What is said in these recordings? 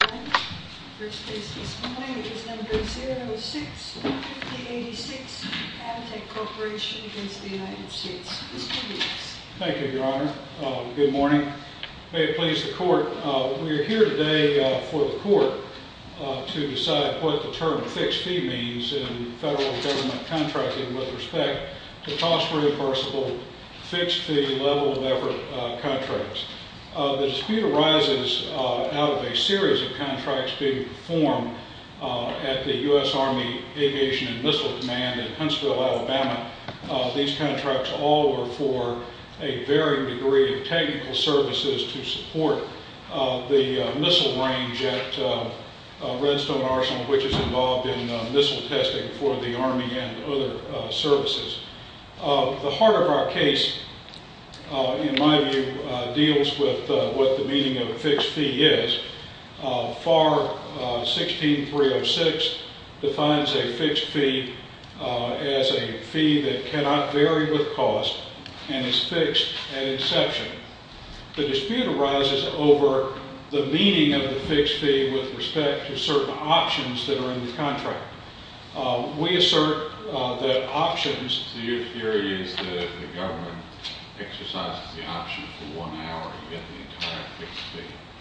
Thank you, Your Honor. Good morning. May it please the Court, we are here today for the Court to decide what the term fixed fee means in federal government contracting with respect to cost reimbursable fixed fee level of effort contracts. The dispute arises out of a series of contracts being performed at the U.S. Army Aviation and Missile Command in Huntsville, Alabama. These contracts all were for a varying degree of technical services to support the missile range at Redstone Arsenal which is involved in missile testing for the Army and other services. The heart of our case, in my view, deals with what the meaning of fixed fee is. FAR 16306 defines a fixed fee as a fee that cannot vary with cost and is fixed at inception. The dispute arises over the meaning of the fixed fee with respect to certain options that are in the contract. We assert that options...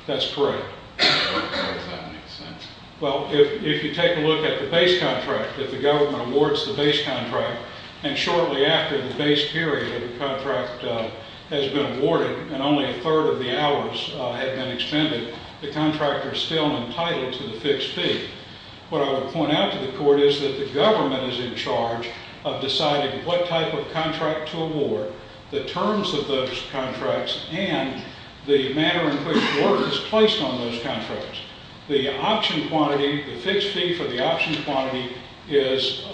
That's correct. Well, if you take a look at the base contract, if the government awards the base contract and shortly after the base period of the contract has been awarded and only a third of the hours have been expended, the contractor is still entitled to the fixed fee. What I would point out to the Court is that the government is in charge of deciding what type of contract to award, the terms of those contracts, and the manner in which work is placed on those contracts. The option quantity, the fixed fee for the option quantity is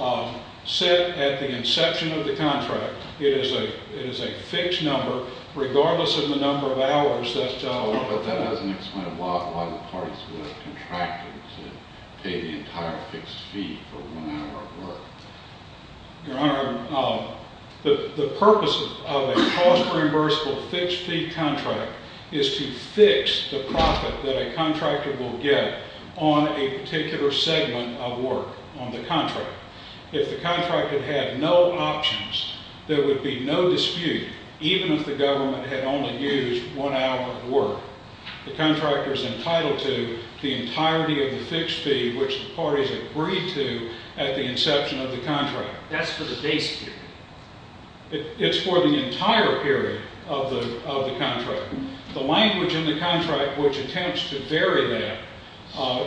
set at the inception of the contract. It is a fixed number regardless of the number of hours that... But that doesn't explain a lot why the parties would have contracted to pay the entire fixed fee for one hour of work. Your Honor, the purpose of a cost reimbursable fixed fee contract is to fix the profit that a contractor will get on a particular segment of work on the contract. If the contractor had no options, there would be no dispute even if the government had only used one hour of work. The contractor is entitled to the entirety of the fixed fee which the parties agreed to at the inception of the contract. That's for the base period. It's for the entire period of the contract. The language in the contract which attempts to vary that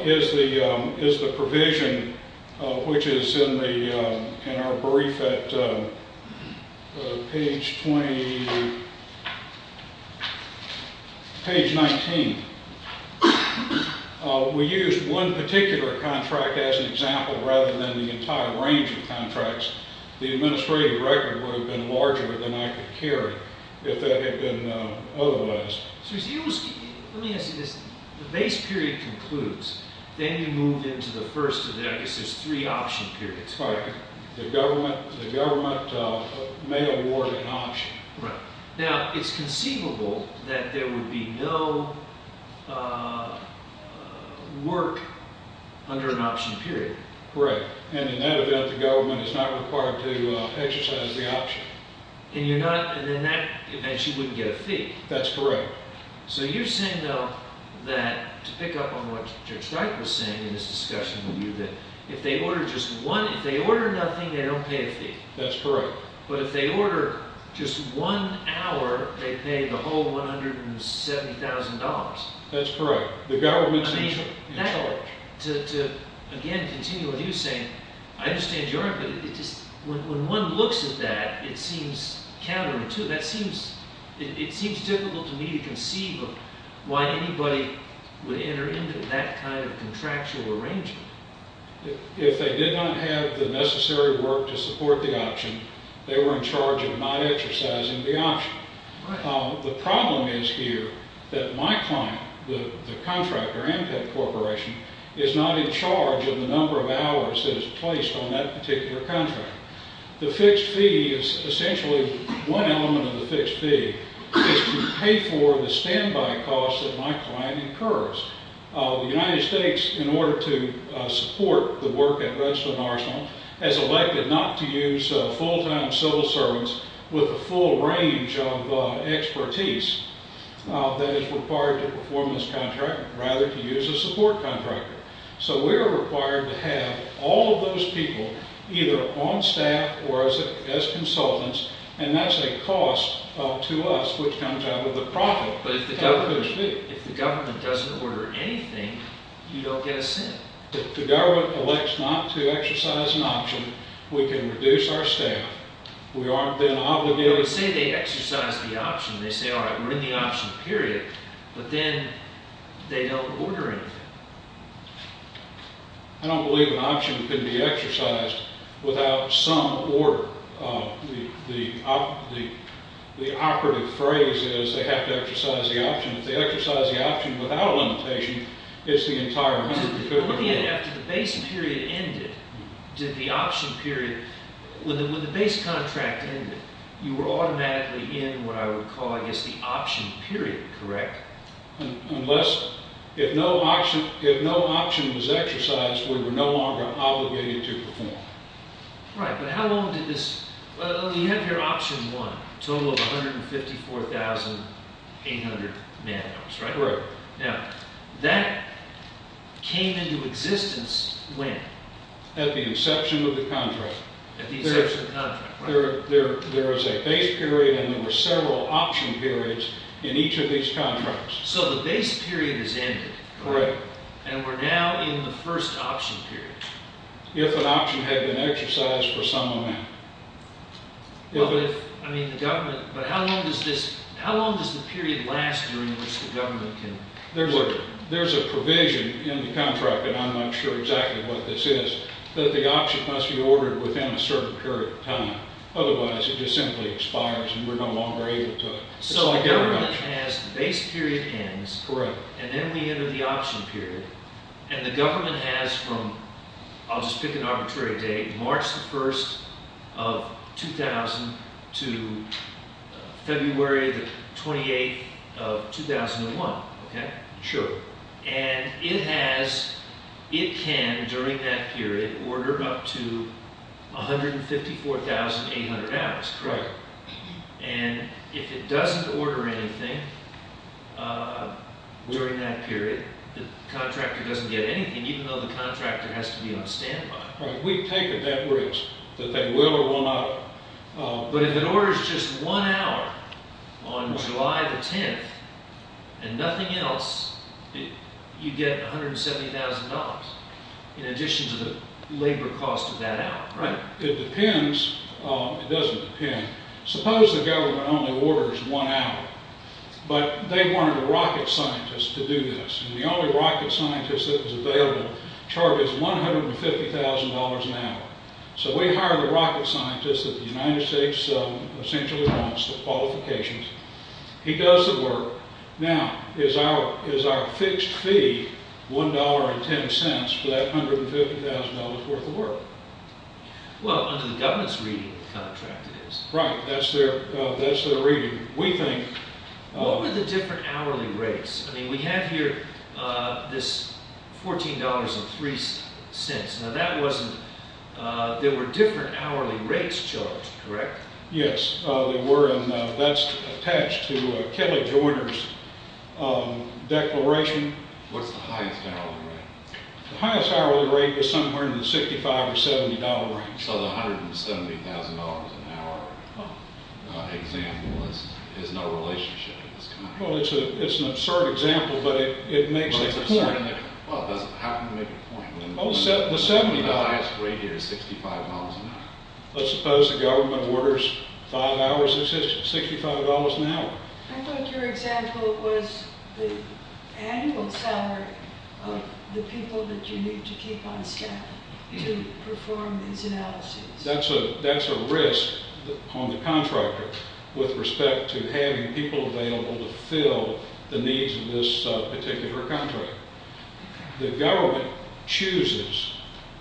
is the provision which is in our We used one particular contract as an example rather than the entire range of contracts. The administrative record would have been larger than I could carry if that had been otherwise. Let me ask you this. The base period concludes, then you move into the first of the... I guess there's three option periods. Right. The government may award an option. Right. Now, it's conceivable that there would be no work under an option period. Right. And in that event, the government is not required to exercise the option. And you're not... and you wouldn't get a fee. That's correct. So you're saying, though, that to pick up on what Judge Wright was saying in this discussion with you, that if they order just one... if they order nothing, they don't pay a fee. That's correct. But if they order just one hour, they pay the whole $170,000. That's correct. The government... I mean, that'll... to, again, continue what you were saying, I understand your input. It just... when one looks at that, it seems counterintuitive. That seems... it seems difficult to me to conceive of why anybody would enter into that kind of contractual arrangement. If they did not have the necessary work to support the option, they were in charge of not exercising the option. Right. The problem is here that my client, the contractor, Ampet Corporation, is not in charge of the number of hours that is placed on that particular contract. The fixed fee is essentially... one element of the fixed fee is to pay for the standby costs that my client incurs. The United States, in order to support the work at Redstone Arsenal, has elected not to use full-time civil servants with the full range of expertise that is required to perform this contract, rather to use a support contractor. So we are required to have all of those people either on staff or as consultants, and that's a cost to us, which comes out of the profit. But if the government... if the government doesn't order anything, you don't get a cent. If the government elects not to exercise an option, we can reduce our staff. We aren't then obligated... They say they exercise the option. They say, all right, we're in the option, period. But then they don't order anything. I don't believe an option can be exercised without some order. The operative phrase is they have to exercise the option. If they exercise the option without a limitation, it's the entire member... I'm looking at it after the base period ended. Did the option period... when the base contract ended, you were automatically in what I would call, I guess, the option period, correct? Unless... if no option was exercised, we were no longer obligated to perform. Right, but how long did this... Well, you have here option one, a total of 154,800 man-hours, right? Correct. Now, that came into existence when? At the inception of the contract. At the inception of the contract, right. There is a base period and there were several option periods in each of these contracts. So the base period has ended. Correct. And we're now in the first option period. If an option had been exercised for some amount. Well, if... I mean, the government... But how long does this... how long does the period last during which the government can... There's a provision in the contract, and I'm not sure exactly what this is, that the option must be ordered within a certain period of time. Otherwise, it just simply expires and we're no longer able to... So the government has the base period ends. Correct. And then we enter the option period. And the government has from, I'll just pick an arbitrary date, March the 1st of 2000 to February the 28th of 2001, okay? Sure. And it has... it can, during that period, order up to 154,800 hours. Correct. And if it doesn't order anything during that period, the contractor doesn't get anything, even though the contractor has to be on standby. Right. We take a debt risk that they will or will not... But if it orders just one hour on July the 10th and nothing else, you get $170,000 in addition to the labor cost of that hour, right? It depends. It doesn't depend. Suppose the government only orders one hour, but they wanted a rocket scientist to do this. And the only rocket scientist that was available, Charlie, is $150,000 an hour. So we hire the rocket scientist that the United States essentially wants, the qualifications. He does the work. Now, is our fixed fee $1.10 for that $150,000 worth of work? Well, under the government's reading of the contract, it is. Right. That's their reading. We think... What were the different hourly rates? I mean, we have here this $14.03. Now, that wasn't... there were different hourly rates charged, correct? Yes, there were, and that's attached to Kelly Joyner's declaration. What's the highest hourly rate? The highest hourly rate is somewhere in the $65 or $70 range. So the $170,000 an hour example has no relationship to this contract? Well, it's an absurd example, but it makes a point. Well, how can it make a point? The highest rate here is $65 an hour. Let's suppose the government orders five hours of assistance, $65 an hour. I thought your example was the annual salary of the people that you need to keep on staff to perform these analyses. That's a risk on the contractor with respect to having people available to fill the needs of this particular contract. The government chooses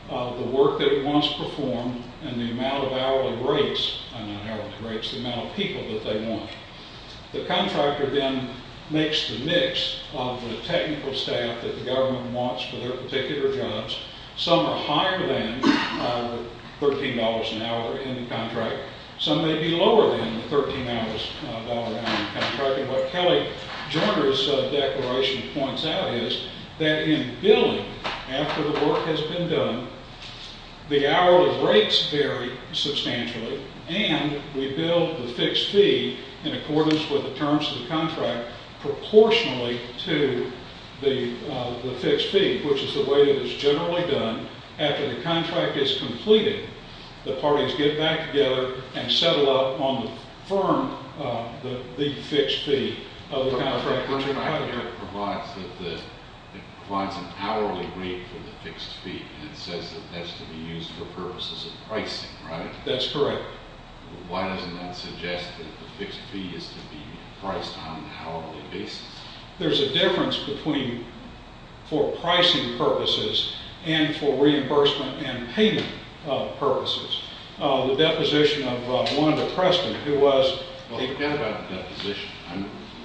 the work that it wants performed and the amount of hourly rates, not hourly rates, the amount of people that they want. The contractor then makes the mix of the technical staff that the government wants for their particular jobs. Some are higher than $13 an hour in the contract. Some may be lower than the $13 an hour in the contract. In fact, what Kelly Joyner's declaration points out is that in billing, after the work has been done, the hourly rates vary substantially and we bill the fixed fee in accordance with the terms of the contract proportionally to the fixed fee, which is the way that it's generally done. After the contract is completed, the parties get back together and settle up on the firm, the fixed fee of the contract. The contract provides an hourly rate for the fixed fee and it says that that's to be used for purposes of pricing, right? That's correct. Why doesn't that suggest that the fixed fee is to be priced on an hourly basis? There's a difference between for pricing purposes and for reimbursement and payment purposes. The deposition of Wanda Preston, who was... Well, he talked about deposition.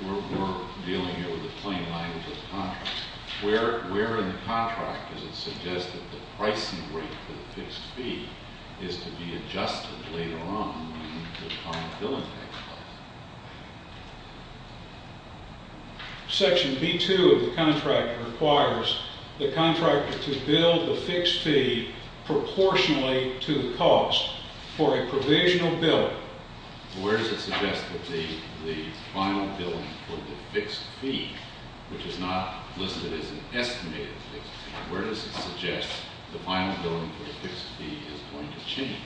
We're dealing here with the plain language of the contract. Where in the contract does it suggest that the pricing rate for the fixed fee is to be adjusted later on when the final billing takes place? Section B-2 of the contract requires the contractor to bill the fixed fee proportionally to the cost for a provisional billing. Where does it suggest that the final billing for the fixed fee, which is not listed as an estimated fixed fee, where does it suggest the final billing for the fixed fee is going to change?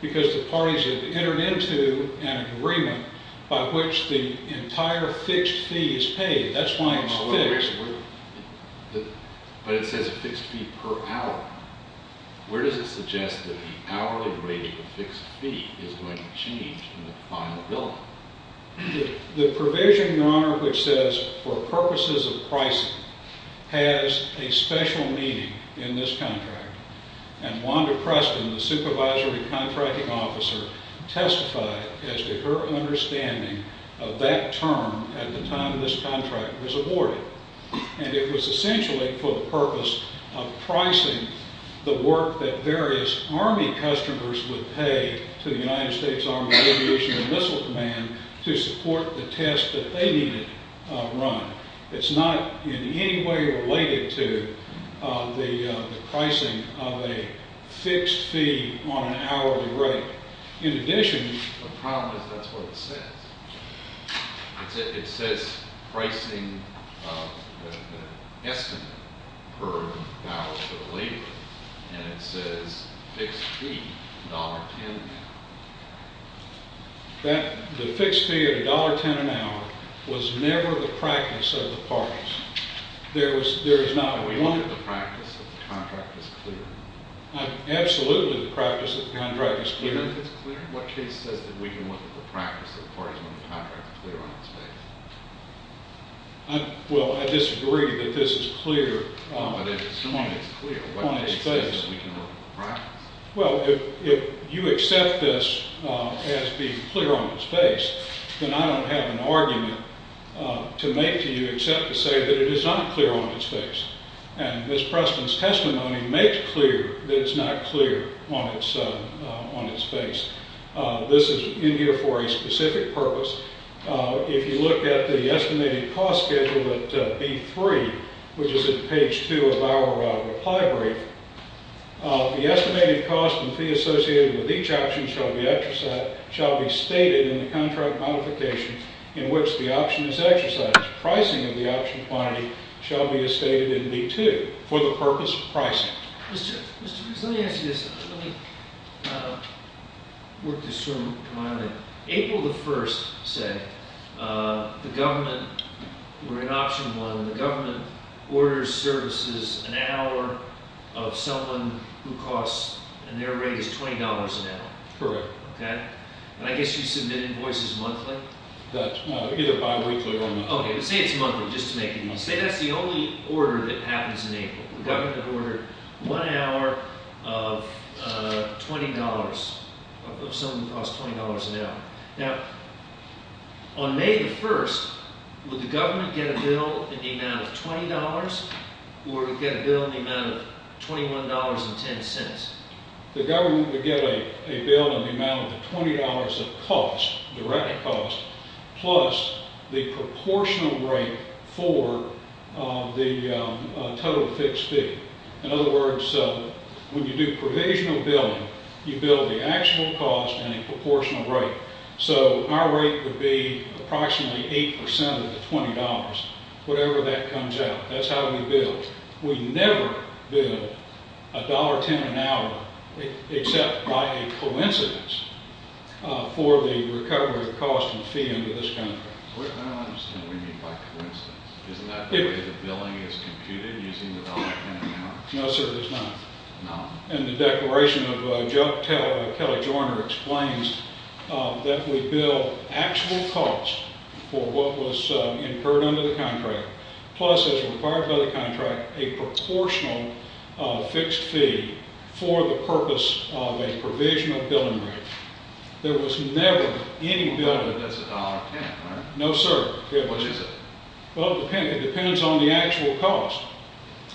Because the parties have entered into an agreement by which the entire fixed fee is paid. That's why it's fixed. But it says fixed fee per hour. Where does it suggest that the hourly rate of the fixed fee is going to change in the final billing? The provision, Your Honor, which says for purposes of pricing has a special meaning in this contract. And Wanda Preston, the supervisory contracting officer, testified as to her understanding of that term at the time this contract was awarded. And it was essentially for the purpose of pricing the work that various Army customers would pay to the United States Army Aviation and Missile Command to support the test that they needed run. It's not in any way related to the pricing of a fixed fee on an hourly rate. In addition, the problem is that's what it says. It says pricing of the estimate per hour for the labor. And it says fixed fee, $1.10 an hour. The fixed fee of $1.10 an hour was never the practice of the parties. There is not one. We look at the practice of the contract as clear. Absolutely the practice of the contract is clear. Even if it's clear, what case says that we can look at the practice of the parties when the contract is clear on its face? Well, I disagree that this is clear on its face. But if it's clear, what case says that we can look at the practice? Well, if you accept this as being clear on its face, then I don't have an argument to make to you except to say that it is not clear on its face. And Ms. Preston's testimony makes clear that it's not clear on its face. This is in here for a specific purpose. If you look at the estimated cost schedule at B3, which is at page 2 of our reply brief, the estimated cost and fee associated with each option shall be stated in the contract modification in which the option is exercised. Pricing of the option quantity shall be as stated in B2 for the purpose of pricing. Mr. Rees, let me ask you this. Let me work this through my own head. April the 1st, say, the government – we're in option 1. The government orders services an hour of someone who costs – and their rate is $20 an hour. Correct. Okay? And I guess you submit invoices monthly? That's right. Either bi-weekly or monthly. Okay. But say it's monthly just to make it easy. Say that's the only order that happens in April. Okay. The government ordered one hour of $20 – of someone who costs $20 an hour. Now, on May the 1st, would the government get a bill in the amount of $20 or get a bill in the amount of $21.10? The government would get a bill in the amount of $20 of cost – direct cost – plus the proportional rate for the total fixed fee. In other words, when you do provisional billing, you bill the actual cost and a proportional rate. So our rate would be approximately 8% of the $20, whatever that comes out. That's how we bill. We never bill $1.10 an hour, except by a coincidence, for the recovery of cost and fee under this contract. I don't understand what you mean by coincidence. Isn't that the way the billing is computed, using the $1.10 an hour? No, sir, it is not. No. And the declaration of Kelly Joyner explains that we bill actual cost for what was incurred under the contract, plus, as required by the contract, a proportional fixed fee for the purpose of a provisional billing rate. There was never any billing. That's $1.10, right? No, sir. Which is it? Well, it depends on the actual cost.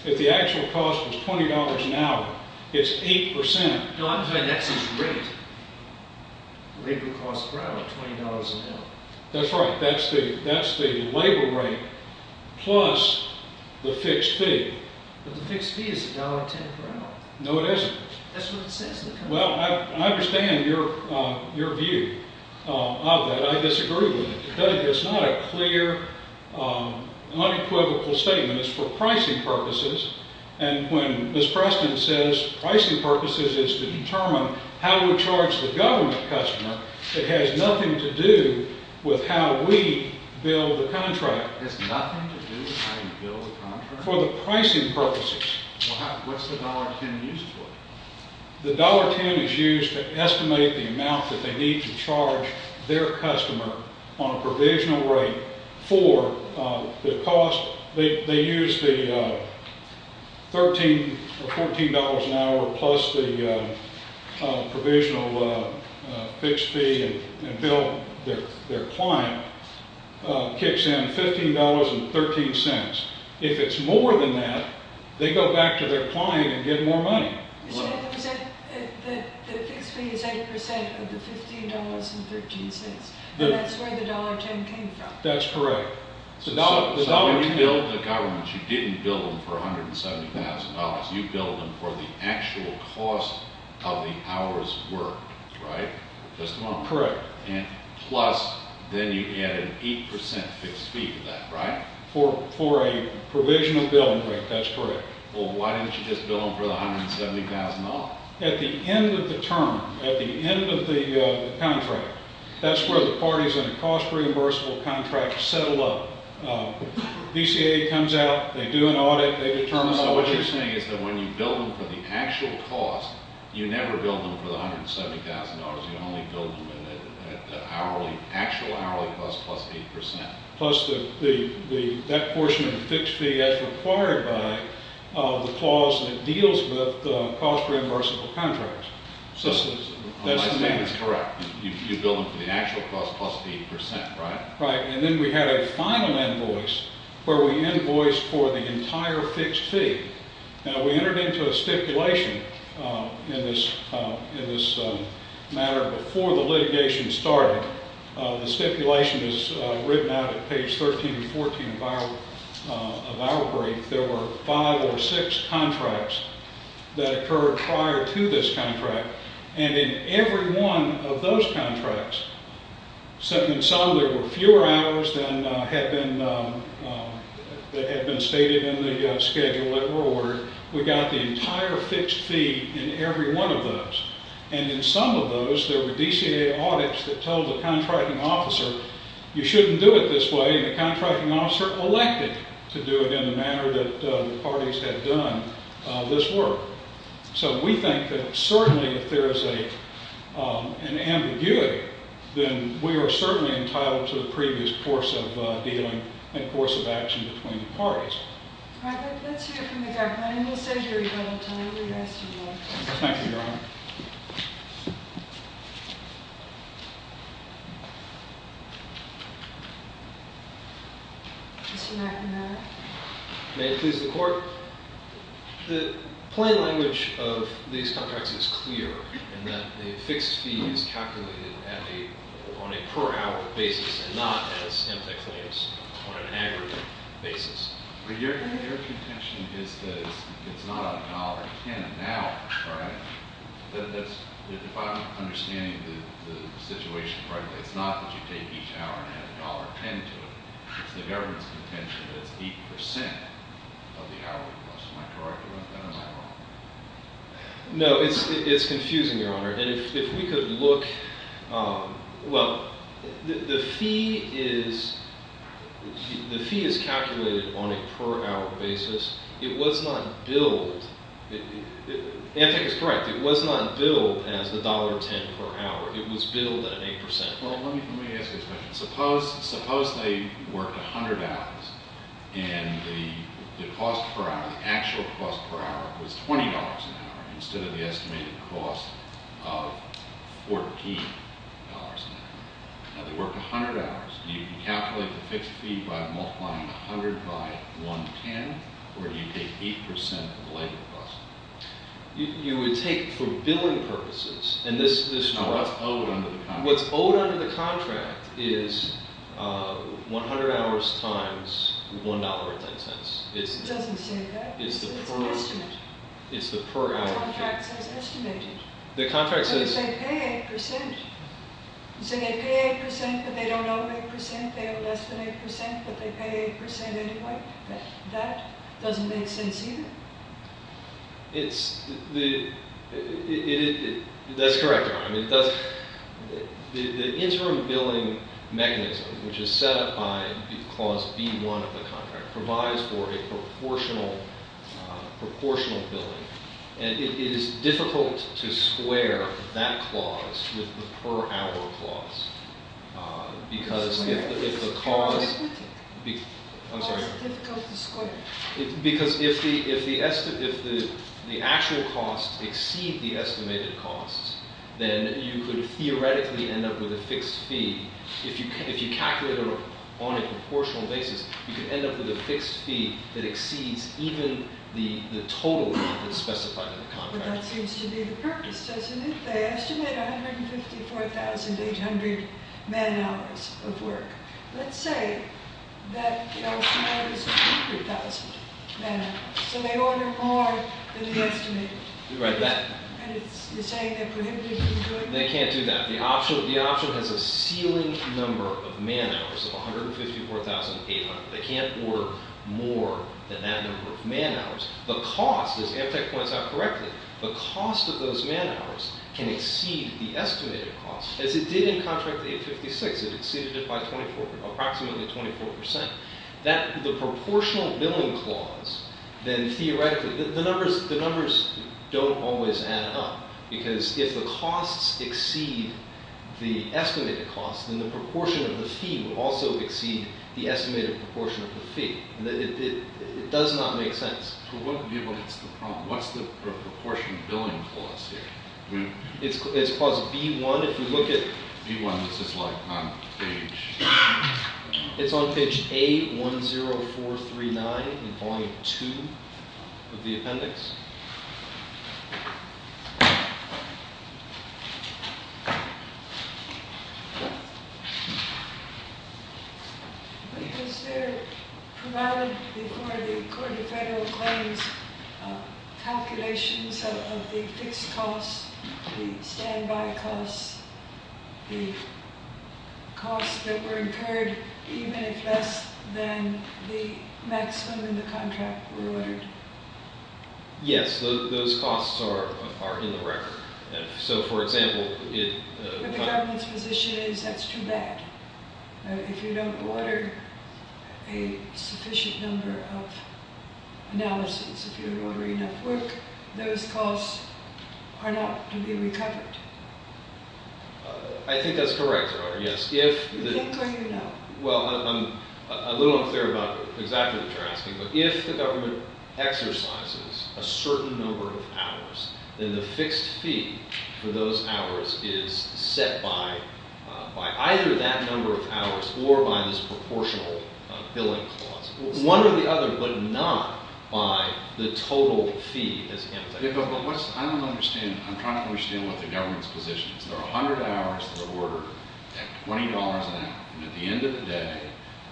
If the actual cost was $20 an hour, it's 8%. No, I'm saying that's its rate, rate of cost per hour, $20 an hour. That's right. That's the labor rate plus the fixed fee. But the fixed fee is $1.10 per hour. No, it isn't. That's what it says in the contract. Well, I understand your view of that. I disagree with it. It's not a clear, unequivocal statement. It's for pricing purposes. And when Ms. Preston says pricing purposes is to determine how we charge the government customer, it has nothing to do with how we bill the contract. It has nothing to do with how you bill the contract? For the pricing purposes. Well, what's the $1.10 used for? The $1.10 is used to estimate the amount that they need to charge their customer on a provisional rate for the cost. They use the $13 or $14 an hour plus the provisional fixed fee and bill their client kicks in $15.13. If it's more than that, they go back to their client and get more money. The fixed fee is 8% of the $15.13, and that's where the $1.10 came from. That's correct. So when you bill the government, you didn't bill them for $170,000. You billed them for the actual cost of the hour's work, right? Correct. Plus, then you add an 8% fixed fee to that, right? For a provisional billing rate, that's correct. Well, why didn't you just bill them for the $170,000? At the end of the term, at the end of the contract, that's where the parties in a cost-reimbursable contract settle up. DCA comes out. They do an audit. They determine all of this. So what you're saying is that when you bill them for the actual cost, you never bill them for the $170,000. You only bill them at the actual hourly cost plus 8%? Plus that portion of the fixed fee as required by the clause that deals with cost-reimbursable contracts. So that's the math. That's correct. You bill them for the actual cost plus 8%, right? Right. And then we had a final invoice where we invoiced for the entire fixed fee. Now, we entered into a stipulation in this matter before the litigation started. The stipulation is written out at page 13 and 14 of our brief. There were five or six contracts that occurred prior to this contract. And in every one of those contracts, some there were fewer hours than had been stated in the schedule that were ordered. We got the entire fixed fee in every one of those. And in some of those, there were DCA audits that told the contracting officer, you shouldn't do it this way, and the contracting officer elected to do it in the manner that the parties had done this work. So we think that certainly if there is an ambiguity, then we are certainly entitled to the previous course of dealing and course of action between the parties. All right. Let's hear from the government. And we'll save your rebuttal time. We asked you to do it. Thank you, Your Honor. Mr. McNamara? May it please the Court? The plain language of these contracts is clear in that the fixed fee is calculated on a per-hour basis and not as MTA claims on an aggregate basis. But your contention is that it's not $1.10 an hour, right? If I'm understanding the situation correctly, it's not that you take each hour and add $1.10 to it. It's the government's contention that it's 8% of the hour cost. Am I correct or am I wrong? No, it's confusing, Your Honor. And if we could look, well, the fee is calculated on a per-hour basis. It was not billed. Antec is correct. It was not billed as $1.10 per hour. Well, let me ask you a question. Suppose they worked 100 hours, and the cost per hour, the actual cost per hour, was $20 an hour instead of the estimated cost of $14 an hour. Now, they worked 100 hours. Do you calculate the fixed fee by multiplying 100 by 1.10, or do you take 8% of the labor cost? You would take it for billing purposes. No, what's owed under the contract. The contract is 100 hours times $1.10. It doesn't say that. It's an estimate. It's the per-hour contract. The contract says estimated. The contract says- But you say pay 8%. You say they pay 8% but they don't owe 8%. They owe less than 8% but they pay 8% anyway. That doesn't make sense either. That's correct, Your Honor. The interim billing mechanism, which is set up by clause B-1 of the contract, provides for a proportional billing. And it is difficult to square that clause with the per-hour clause because if the cost- It's complicated. I'm sorry? It's difficult to square. Because if the actual costs exceed the estimated costs, then you could theoretically end up with a fixed fee. If you calculate it on a proportional basis, you could end up with a fixed fee that exceeds even the total amount that's specified in the contract. But that seems to be the purpose, doesn't it? They estimate 154,800 man-hours of work. Let's say that the ultimate is 200,000 man-hours. So they order more than the estimated. You're right. They can't do that. The option has a ceiling number of man-hours of 154,800. They can't order more than that number of man-hours. The cost, as Amtech points out correctly, the cost of those man-hours can exceed the estimated cost, as it did in contract 856. It exceeded it by approximately 24%. The proportional billing clause, then, theoretically, the numbers don't always add up. Because if the costs exceed the estimated cost, then the proportion of the fee would also exceed the estimated proportion of the fee. It does not make sense. So what's the proportion billing clause here? It's clause B-1. If you look at B-1, this is like on page. It's on page A-10439 in volume 2 of the appendix. Yes? Has there been provided before the Court of Federal Claims calculations of the fixed costs, the standby costs, the costs that were incurred even if less than the maximum in the contract were ordered? Yes. Those costs are in the record. So, for example, it- But the government's position is that's too bad. If you don't order a sufficient number of analysis, if you don't order enough work, those costs are not to be recovered. I think that's correct, Your Honor, yes. You think or you know? Well, I'm a little unclear about exactly what you're asking. But if the government exercises a certain number of hours, then the fixed fee for those hours is set by either that number of hours or by this proportional billing clause. One or the other, but not by the total fee as annotated. I don't understand. I'm trying to understand what the government's position is. There are 100 hours that are ordered at $20 an hour. And at the end of the day,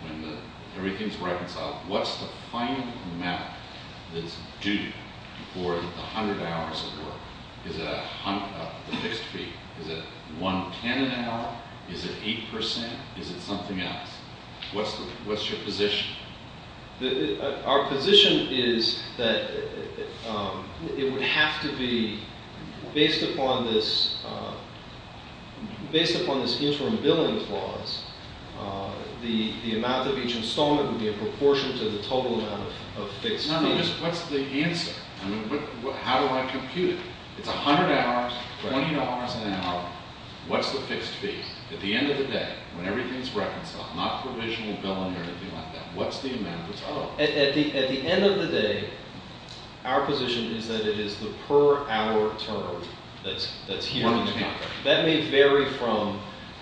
when everything's reconciled, what's the final amount that's due for the 100 hours of work? Is it the fixed fee? Is it $1.10 an hour? Is it 8%? Is it something else? What's your position? Our position is that it would have to be based upon this interim billing clause. The amount of each installment would be in proportion to the total amount of fixed fees. What's the answer? How do I compute it? It's 100 hours, $20 an hour. What's the fixed fee? At the end of the day, when everything's reconciled, not provisional billing or anything like that, what's the amount that's owed? At the end of the day, our position is that it is the per hour term that's here. $1.10. That may vary from,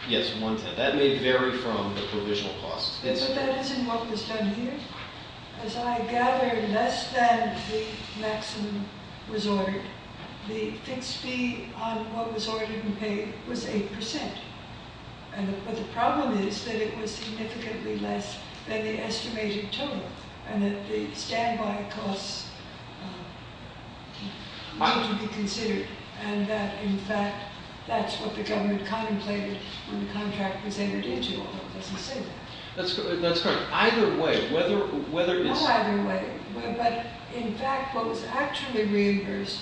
yes, $1.10. That may vary from the provisional clause. But that isn't what was done here. As I gather, less than the maximum was ordered, the fixed fee on what was ordered and paid was 8%. But the problem is that it was significantly less than the estimated total and that the standby costs need to be considered and that, in fact, that's what the government contemplated when the contract was entered into, although it doesn't say that. That's correct. Either way, whether it's... Oh, either way. But, in fact, what was actually reimbursed,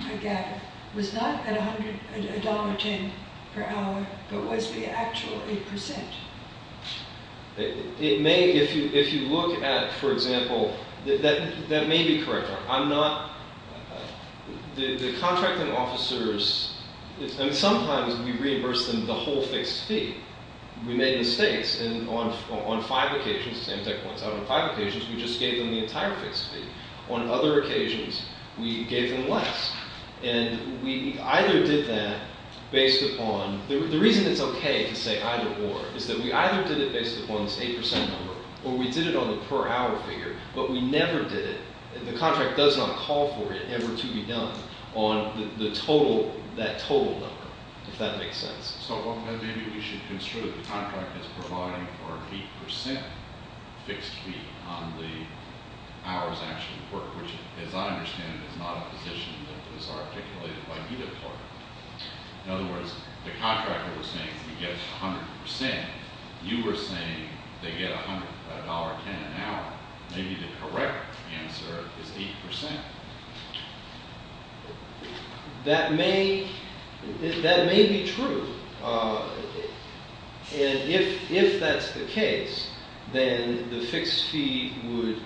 I gather, was not at $1.10 per hour but was the actual 8%. It may, if you look at, for example, that may be correct. I'm not... The contracting officers... Sometimes we reimburse them the whole fixed fee. We made mistakes, and on five occasions, the same tech points out, on five occasions, we just gave them the entire fixed fee. On other occasions, we gave them less. And we either did that based upon... The reason it's okay to say either or is that we either did it based upon this 8% number or we did it on the per hour figure, but we never did it. The contract does not call for it ever to be done on the total, that total number, if that makes sense. So maybe we should consider the contract as providing for 8% fixed fee on the hours actually worked, which, as I understand it, is not a position that is articulated by either party. In other words, the contractor was saying we get 100%. You were saying they get $1.10 an hour. Maybe the correct answer is 8%. That may... That may be true. And if that's the case, then the fixed fee would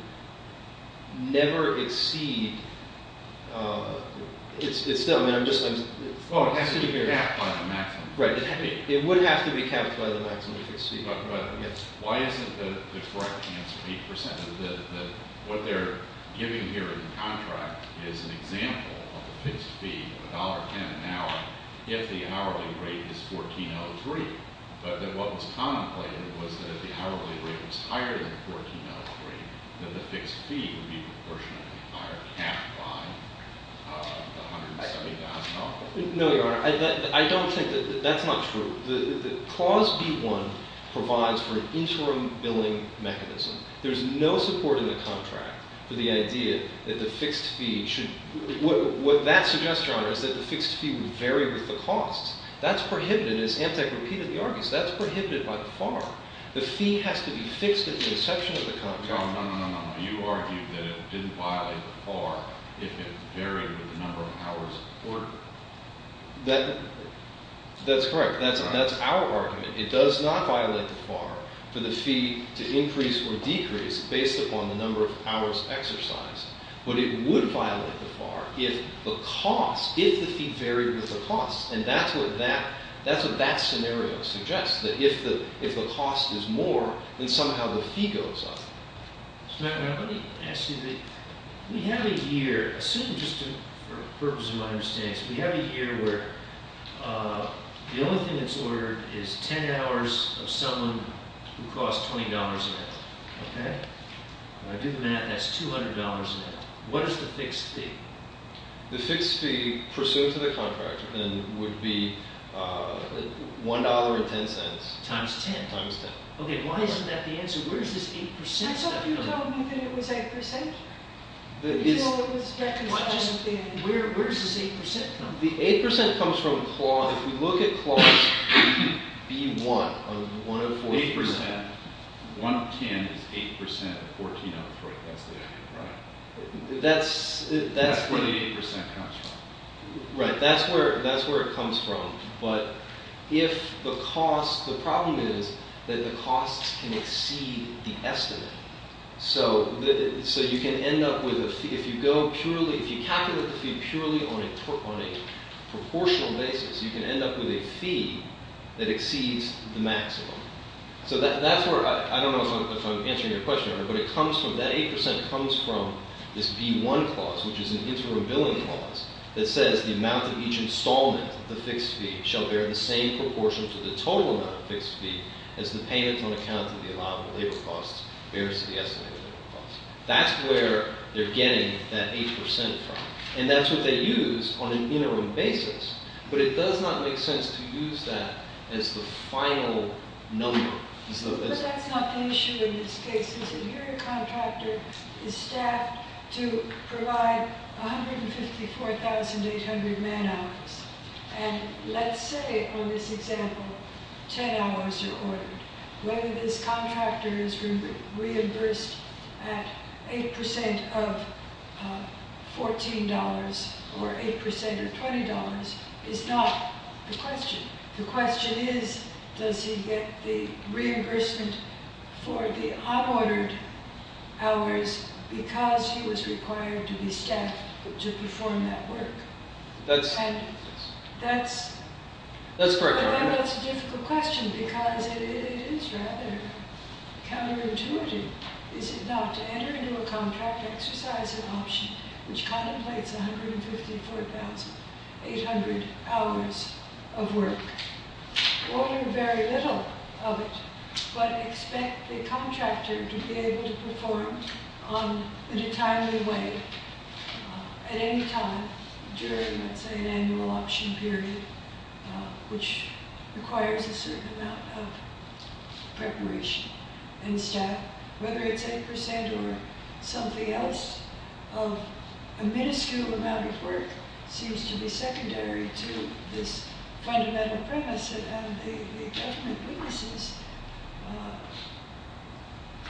never exceed... It's still... Oh, it has to be capped by the maximum fixed fee. It would have to be capped by the maximum fixed fee. But why isn't the correct answer 8%? What they're giving here in the contract is an example of a fixed fee of $1.10 an hour if the hourly rate is $1,403. But what was contemplated was that if the hourly rate was higher than $1,403, then the fixed fee would be proportionately higher, capped by the $170,000. No, Your Honor. I don't think that... That's not true. The clause B-1 provides for an interim billing mechanism. There's no support in the contract for the idea that the fixed fee should... What that suggests, Your Honor, is that the fixed fee would vary with the costs. That's prohibited, as Amtak repeated the argument. That's prohibited by the FAR. The fee has to be fixed at the inception of the contract. No, no, no, no, no. You argued that it didn't violate the FAR if it varied with the number of hours of work. That's correct. That's our argument. It does not violate the FAR for the fee to increase or decrease based upon the number of hours exercised. But it would violate the FAR if the cost, if the fee varied with the cost. And that's what that scenario suggests, that if the cost is more, then somehow the fee goes up. Mr. McNamara, let me ask you the... We have a year, assuming, just for purposes of my understanding, we have a year where the only thing that's ordered is 10 hours of someone who costs $20 an hour. Okay? If I do the math, that's $200 an hour. What is the fixed fee? The fixed fee pursuant to the contract would be $1.10. Times 10. Times 10. Okay, why isn't that the answer? Where does this 8% come from? That's what you told me, that it was 8%. You told me it was 10. Where does this 8% come from? The 8% comes from CLAW. If we look at CLAW's B1 of 1 of 14... 8%. 1 of 10 is 8% of 14 of 3. That's the... Right. That's... That's where the 8% comes from. Right, that's where it comes from. But if the cost... The problem is that the costs can exceed the estimate. So you can end up with a fee... If you go purely... If you calculate the fee purely on a proportional basis, you can end up with a fee that exceeds the maximum. So that's where... I don't know if I'm answering your question right, but it comes from... That 8% comes from this B1 clause, which is an interim billing clause, that says, That's where they're getting that 8% from. And that's what they use on an interim basis. But it does not make sense to use that as the final number. But that's not the issue in this case. His interior contractor is staffed to provide 154,800 man hours. And let's say, on this example, 10 hours are ordered. Whether this contractor is reimbursed at 8% of $14 or 8% of $20 is not the question. The question is, does he get the reimbursement for the unordered hours because he was required to be staffed to perform that work? That's... That's... That's correct. That's a difficult question, because it is rather counterintuitive, is it not, to enter into a contract exercise option which contemplates 154,800 hours of work? Order very little of it, but expect the contractor to be able to perform in a timely way at any time during, let's say, an annual option period, which requires a certain amount of preparation and staff, whether it's 8% or something else, of a minuscule amount of work seems to be secondary to this fundamental premise that the government witnesses,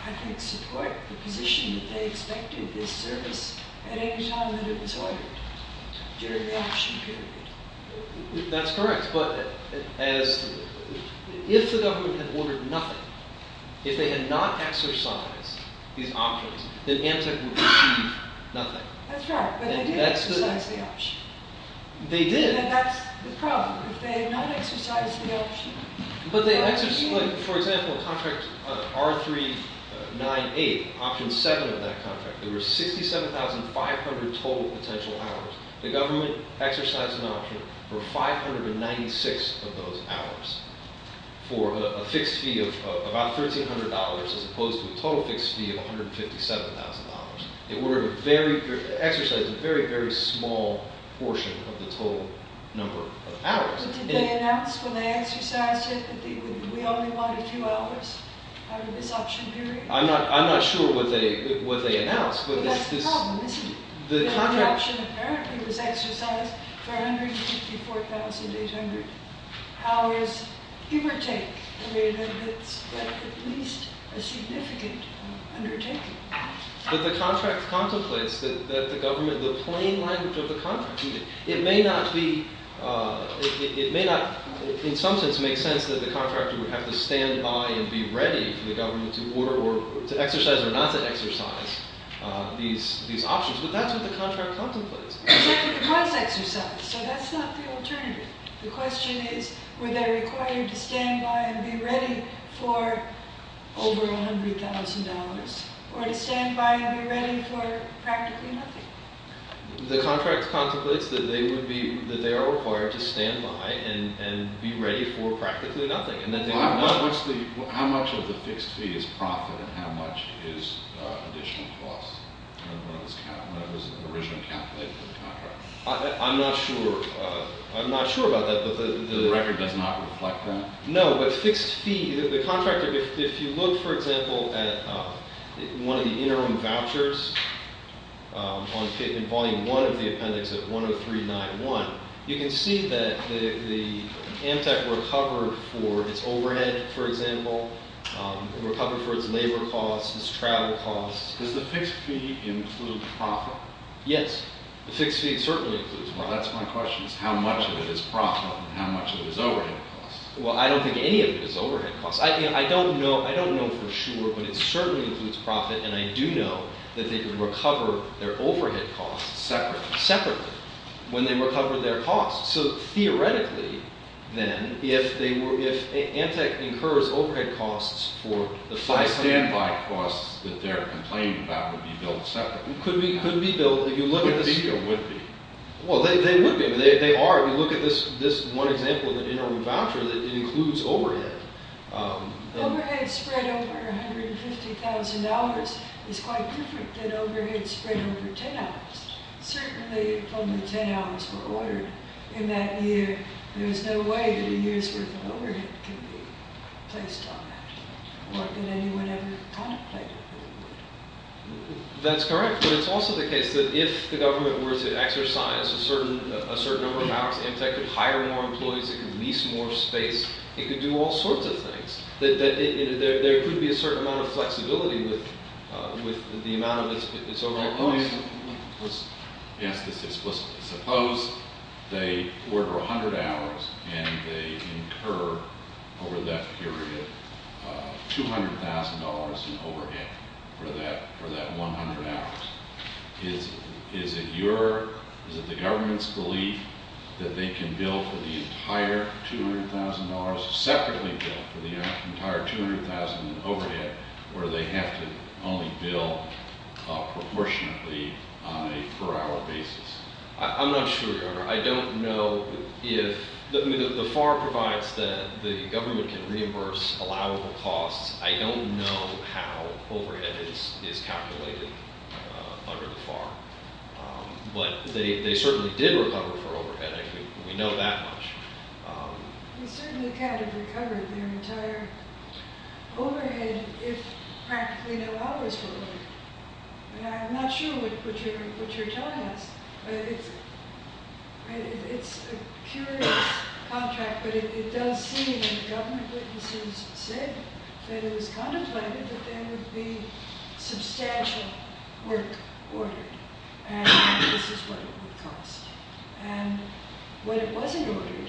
I think, support the position that they expected this service at any time that it was ordered during the option period. That's correct. But if the government had ordered nothing, if they had not exercised these options, then Amtec would have achieved nothing. That's right, but they did exercise the option. They did. And that's the problem. If they had not exercised the option... But they exercised... For example, contract R398, option 7 of that contract, there were 67,500 total potential hours. The government exercised an option for 596 of those hours for a fixed fee of about $1,300 as opposed to a total fixed fee of $157,000. They exercised a very, very small portion of the total number of hours. Did they announce when they exercised it that we only wanted 2 hours out of this option period? I'm not sure what they announced. But that's the problem, isn't it? The option apparently was exercised for $154,800. How is hevertake? I mean, that's at least a significant undertaking. But the contract contemplates that the government... The plain language of the contract... It may not be... It may not in some sense make sense that the contractor would have to stand by and be ready for the government to exercise or not to exercise these options, but that's what the contract contemplates. Exactly, but it was exercised, so that's not the alternative. The question is, were they required to stand by and be ready for over $100,000 or to stand by and be ready for practically nothing? The contract contemplates that they are required to stand by and be ready for practically nothing. How much of the fixed fee is profit and how much is additional cost when it was originally calculated in the contract? I'm not sure. I'm not sure about that. The record does not reflect that. No, but fixed fee... If you look, for example, at one of the interim vouchers in Volume 1 of the appendix at 10391, you can see that the Amtec recovered for its overhead, for example. It recovered for its labor costs, its travel costs. Does the fixed fee include profit? Yes, the fixed fee certainly includes profit. Well, that's my question, is how much of it is profit and how much of it is overhead costs? Well, I don't think any of it is overhead costs. I don't know for sure, but it certainly includes profit, and I do know that they could recover their overhead costs... Separately? Separately, when they recovered their costs. So, theoretically, then, if Amtec incurs overhead costs for the five... So the stand-by costs that they're complaining about could be billed separately? Could be billed... Could be or would be? Well, they would be. They are, if you look at this one example of an interim voucher that includes overhead. Overhead spread over $150,000 is quite different than overhead spread over 10 hours. Certainly, if only 10 hours were ordered in that year, there's no way that a year's worth of overhead can be placed on that. What could anyone ever contemplate? That's correct, but it's also the case that if the government were to exercise a certain number of hours, Amtec could hire more employees, it could lease more space, it could do all sorts of things. There could be a certain amount of flexibility with the amount of its overall costs. Let me answer this explicitly. Suppose they order 100 hours, and they incur, over that period, $200,000 in overhead for that 100 hours. Is it your... Is it the government's belief that they can bill for the entire $200,000, separately bill for the entire $200,000 in overhead, or do they have to only bill proportionately on a per-hour basis? I'm not sure, Your Honor. I don't know if... The FAR provides that the government can reimburse allowable costs. I don't know how overhead is calculated under the FAR, but they certainly did recover for overhead. We know that much. They certainly can't have recovered their entire overhead if practically no hours were owed. I'm not sure what you're telling us, but it's a curious contract, but it does seem, and the government witnesses have said, that it was contemplated that there would be substantial work ordered, and this is what it would cost. And when it wasn't ordered,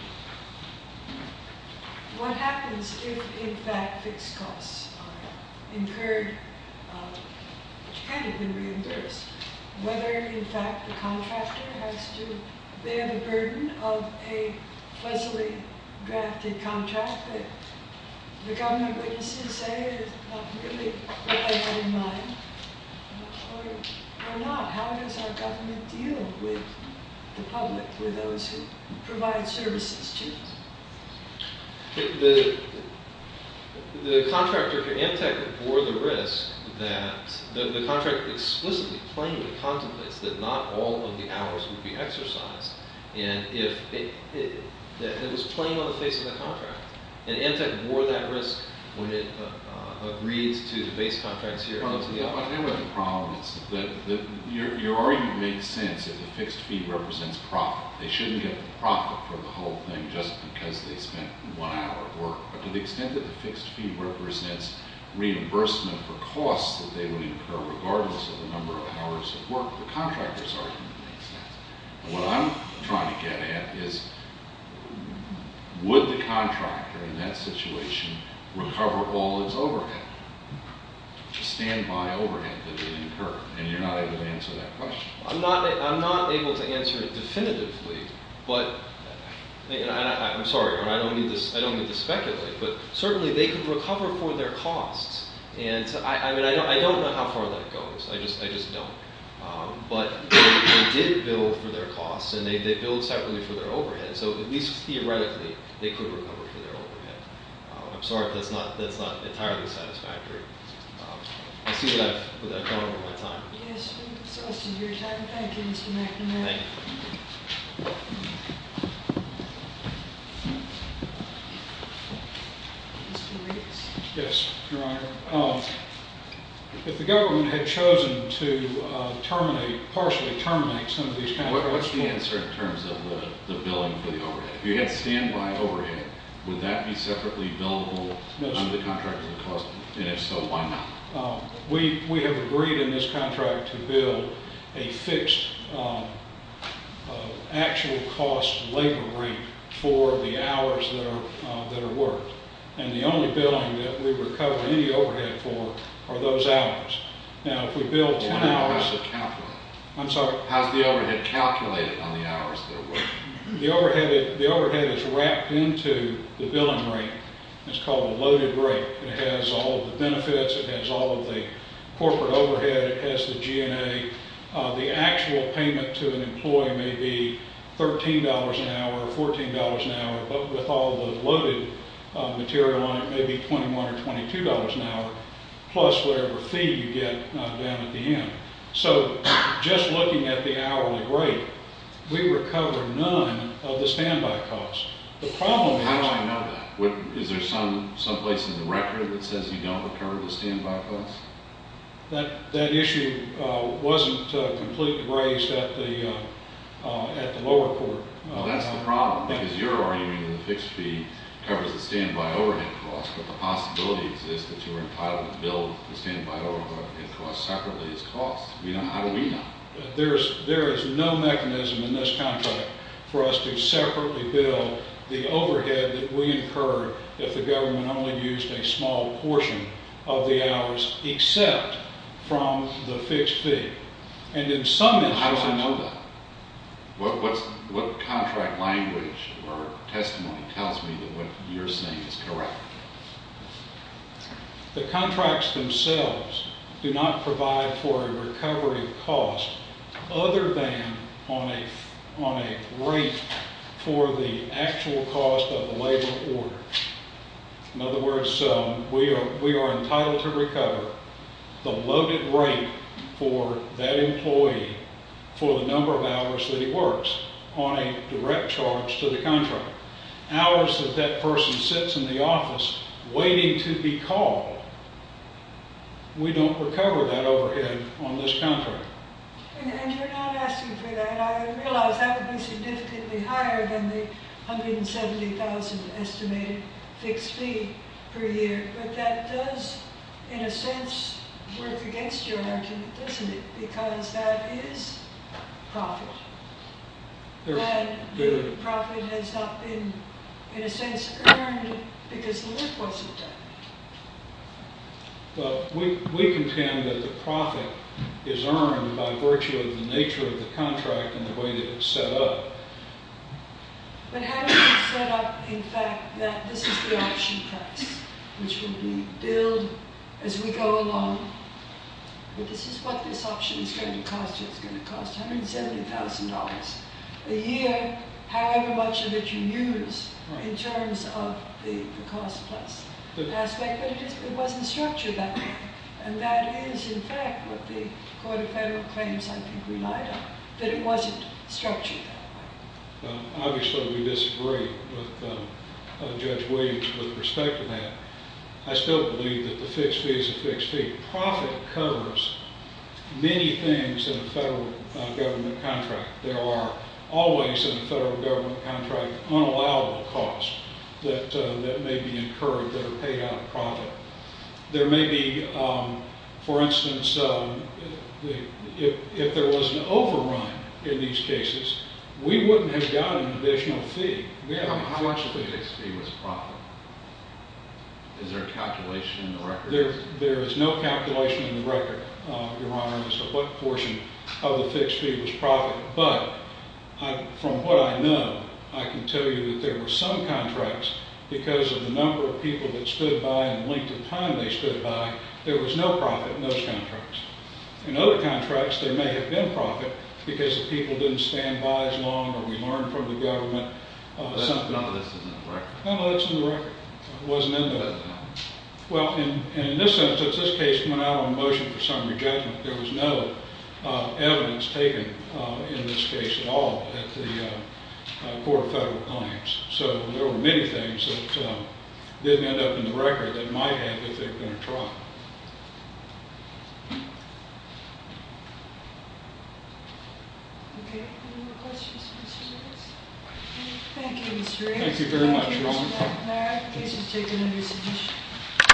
what happens if, in fact, fixed costs are incurred, which can have been reimbursed, whether, in fact, the contractor has to bear the burden of a pleasantly drafted contract that the government witnesses say is not really what they had in mind, or not? How does our government deal with the public, with those who provide services to us? The contractor for Amtec bore the risk that the contract explicitly plainly contemplates that not all of the hours would be exercised, and it was plain on the face of the contract. And Amtec bore that risk when it agrees to the base contracts here. I don't know what the problem is. Your argument makes sense that the fixed fee represents profit. They shouldn't get the profit for the whole thing just because they spent one hour of work, but to the extent that the fixed fee represents reimbursement for costs that they would incur regardless of the number of hours of work, the contractor's argument makes sense. And what I'm trying to get at is, would the contractor in that situation recover all its overhead, the standby overhead that it incurred? And you're not able to answer that question. I'm not able to answer it definitively, but I'm sorry, I don't mean to speculate, but certainly they could recover for their costs. And I don't know how far that goes. I just don't. But they did bill for their costs, and they billed separately for their overhead. So at least theoretically, they could recover for their overhead. I'm sorry if that's not entirely satisfactory. I see that I've gone over my time. Yes, we've exhausted your time. Thank you, Mr. McNamara. Thank you. Mr. Riggs? Yes, Your Honor. If the government had chosen to terminate, partially terminate some of these contracts... What's the answer in terms of the billing for the overhead? If you had standby overhead, would that be separately billable under the contract? And if so, why not? We have agreed in this contract to bill a fixed actual cost labor rate for the hours that are worked. And the only billing that we recover any overhead for are those hours. Ten hours of calculating. I'm sorry? How's the overhead calculated on the hours that are worked? The overhead is wrapped into the billing rate. It's called a loaded rate. It has all of the benefits. It has all of the corporate overhead. It has the G&A. The actual payment to an employee may be $13 an hour or $14 an hour, but with all the loaded material on it, it may be $21 or $22 an hour, plus whatever fee you get down at the end. So just looking at the hourly rate, we recover none of the standby costs. How do I know that? Is there someplace in the record that says you don't recover the standby costs? That issue wasn't completely raised at the lower court. Well, that's the problem, because you're arguing that the fixed fee covers the standby overhead cost, but the possibility exists that you were entitled to bill the standby overhead cost separately as cost. How do we know? There is no mechanism in this contract for us to separately bill the overhead that we incurred if the government only used a small portion of the hours except from the fixed fee. And in some instances... How do I know that? What contract language or testimony tells me that what you're saying is correct? The contracts themselves do not provide for a recovery cost other than on a rate for the actual cost of the labor order. In other words, we are entitled to recover the loaded rate for that employee for the number of hours that he works on a direct charge to the contract. Hours that that person sits in the office waiting to be called, we don't recover that overhead on this contract. And you're not asking for that. I realize that would be significantly higher than the $170,000 estimated fixed fee per year, but that does, in a sense, work against your argument, doesn't it? Because that is profit. And the profit has not been, in a sense, earned because the lift wasn't done. Well, we contend that the profit is earned by virtue of the nature of the contract and the way that it's set up. But how does it set up, in fact, that this is the option price, which will be billed as we go along? This is what this option is going to cost you. It's going to cost $170,000 a year, however much of it you use in terms of the cost plus aspect. But it wasn't structured that way. And that is, in fact, what the Court of Federal Claims I think relied on, that it wasn't structured that way. Obviously, we disagree with Judge Williams with respect to that. I still believe that the fixed fee is a fixed fee. Profit covers many things in a federal government contract. There are always, in a federal government contract, unallowable costs that may be incurred that are paid out of profit. There may be, for instance, if there was an overrun in these cases, we wouldn't have gotten an additional fee. How much of the fixed fee was profit? Is there a calculation in the record? There is no calculation in the record, Your Honor, as to what portion of the fixed fee was profit. But from what I know, I can tell you that there were some contracts, because of the number of people that stood by and the length of time they stood by, there was no profit in those contracts. In other contracts, there may have been profit because the people didn't stand by as long or we learned from the government. That's not listed in the record. No, that's in the record. It wasn't in the... That's not. Well, in this instance, this case went out on motion for summary judgment. There was no evidence taken in this case at all at the court of federal claims. So there were many things that didn't end up in the record that might have if there had been a trial. Okay. Any more questions? Thank you, Mr. Wray. Thank you very much, Your Honor. Thank you, Mr. McNair. The case is taken under submission.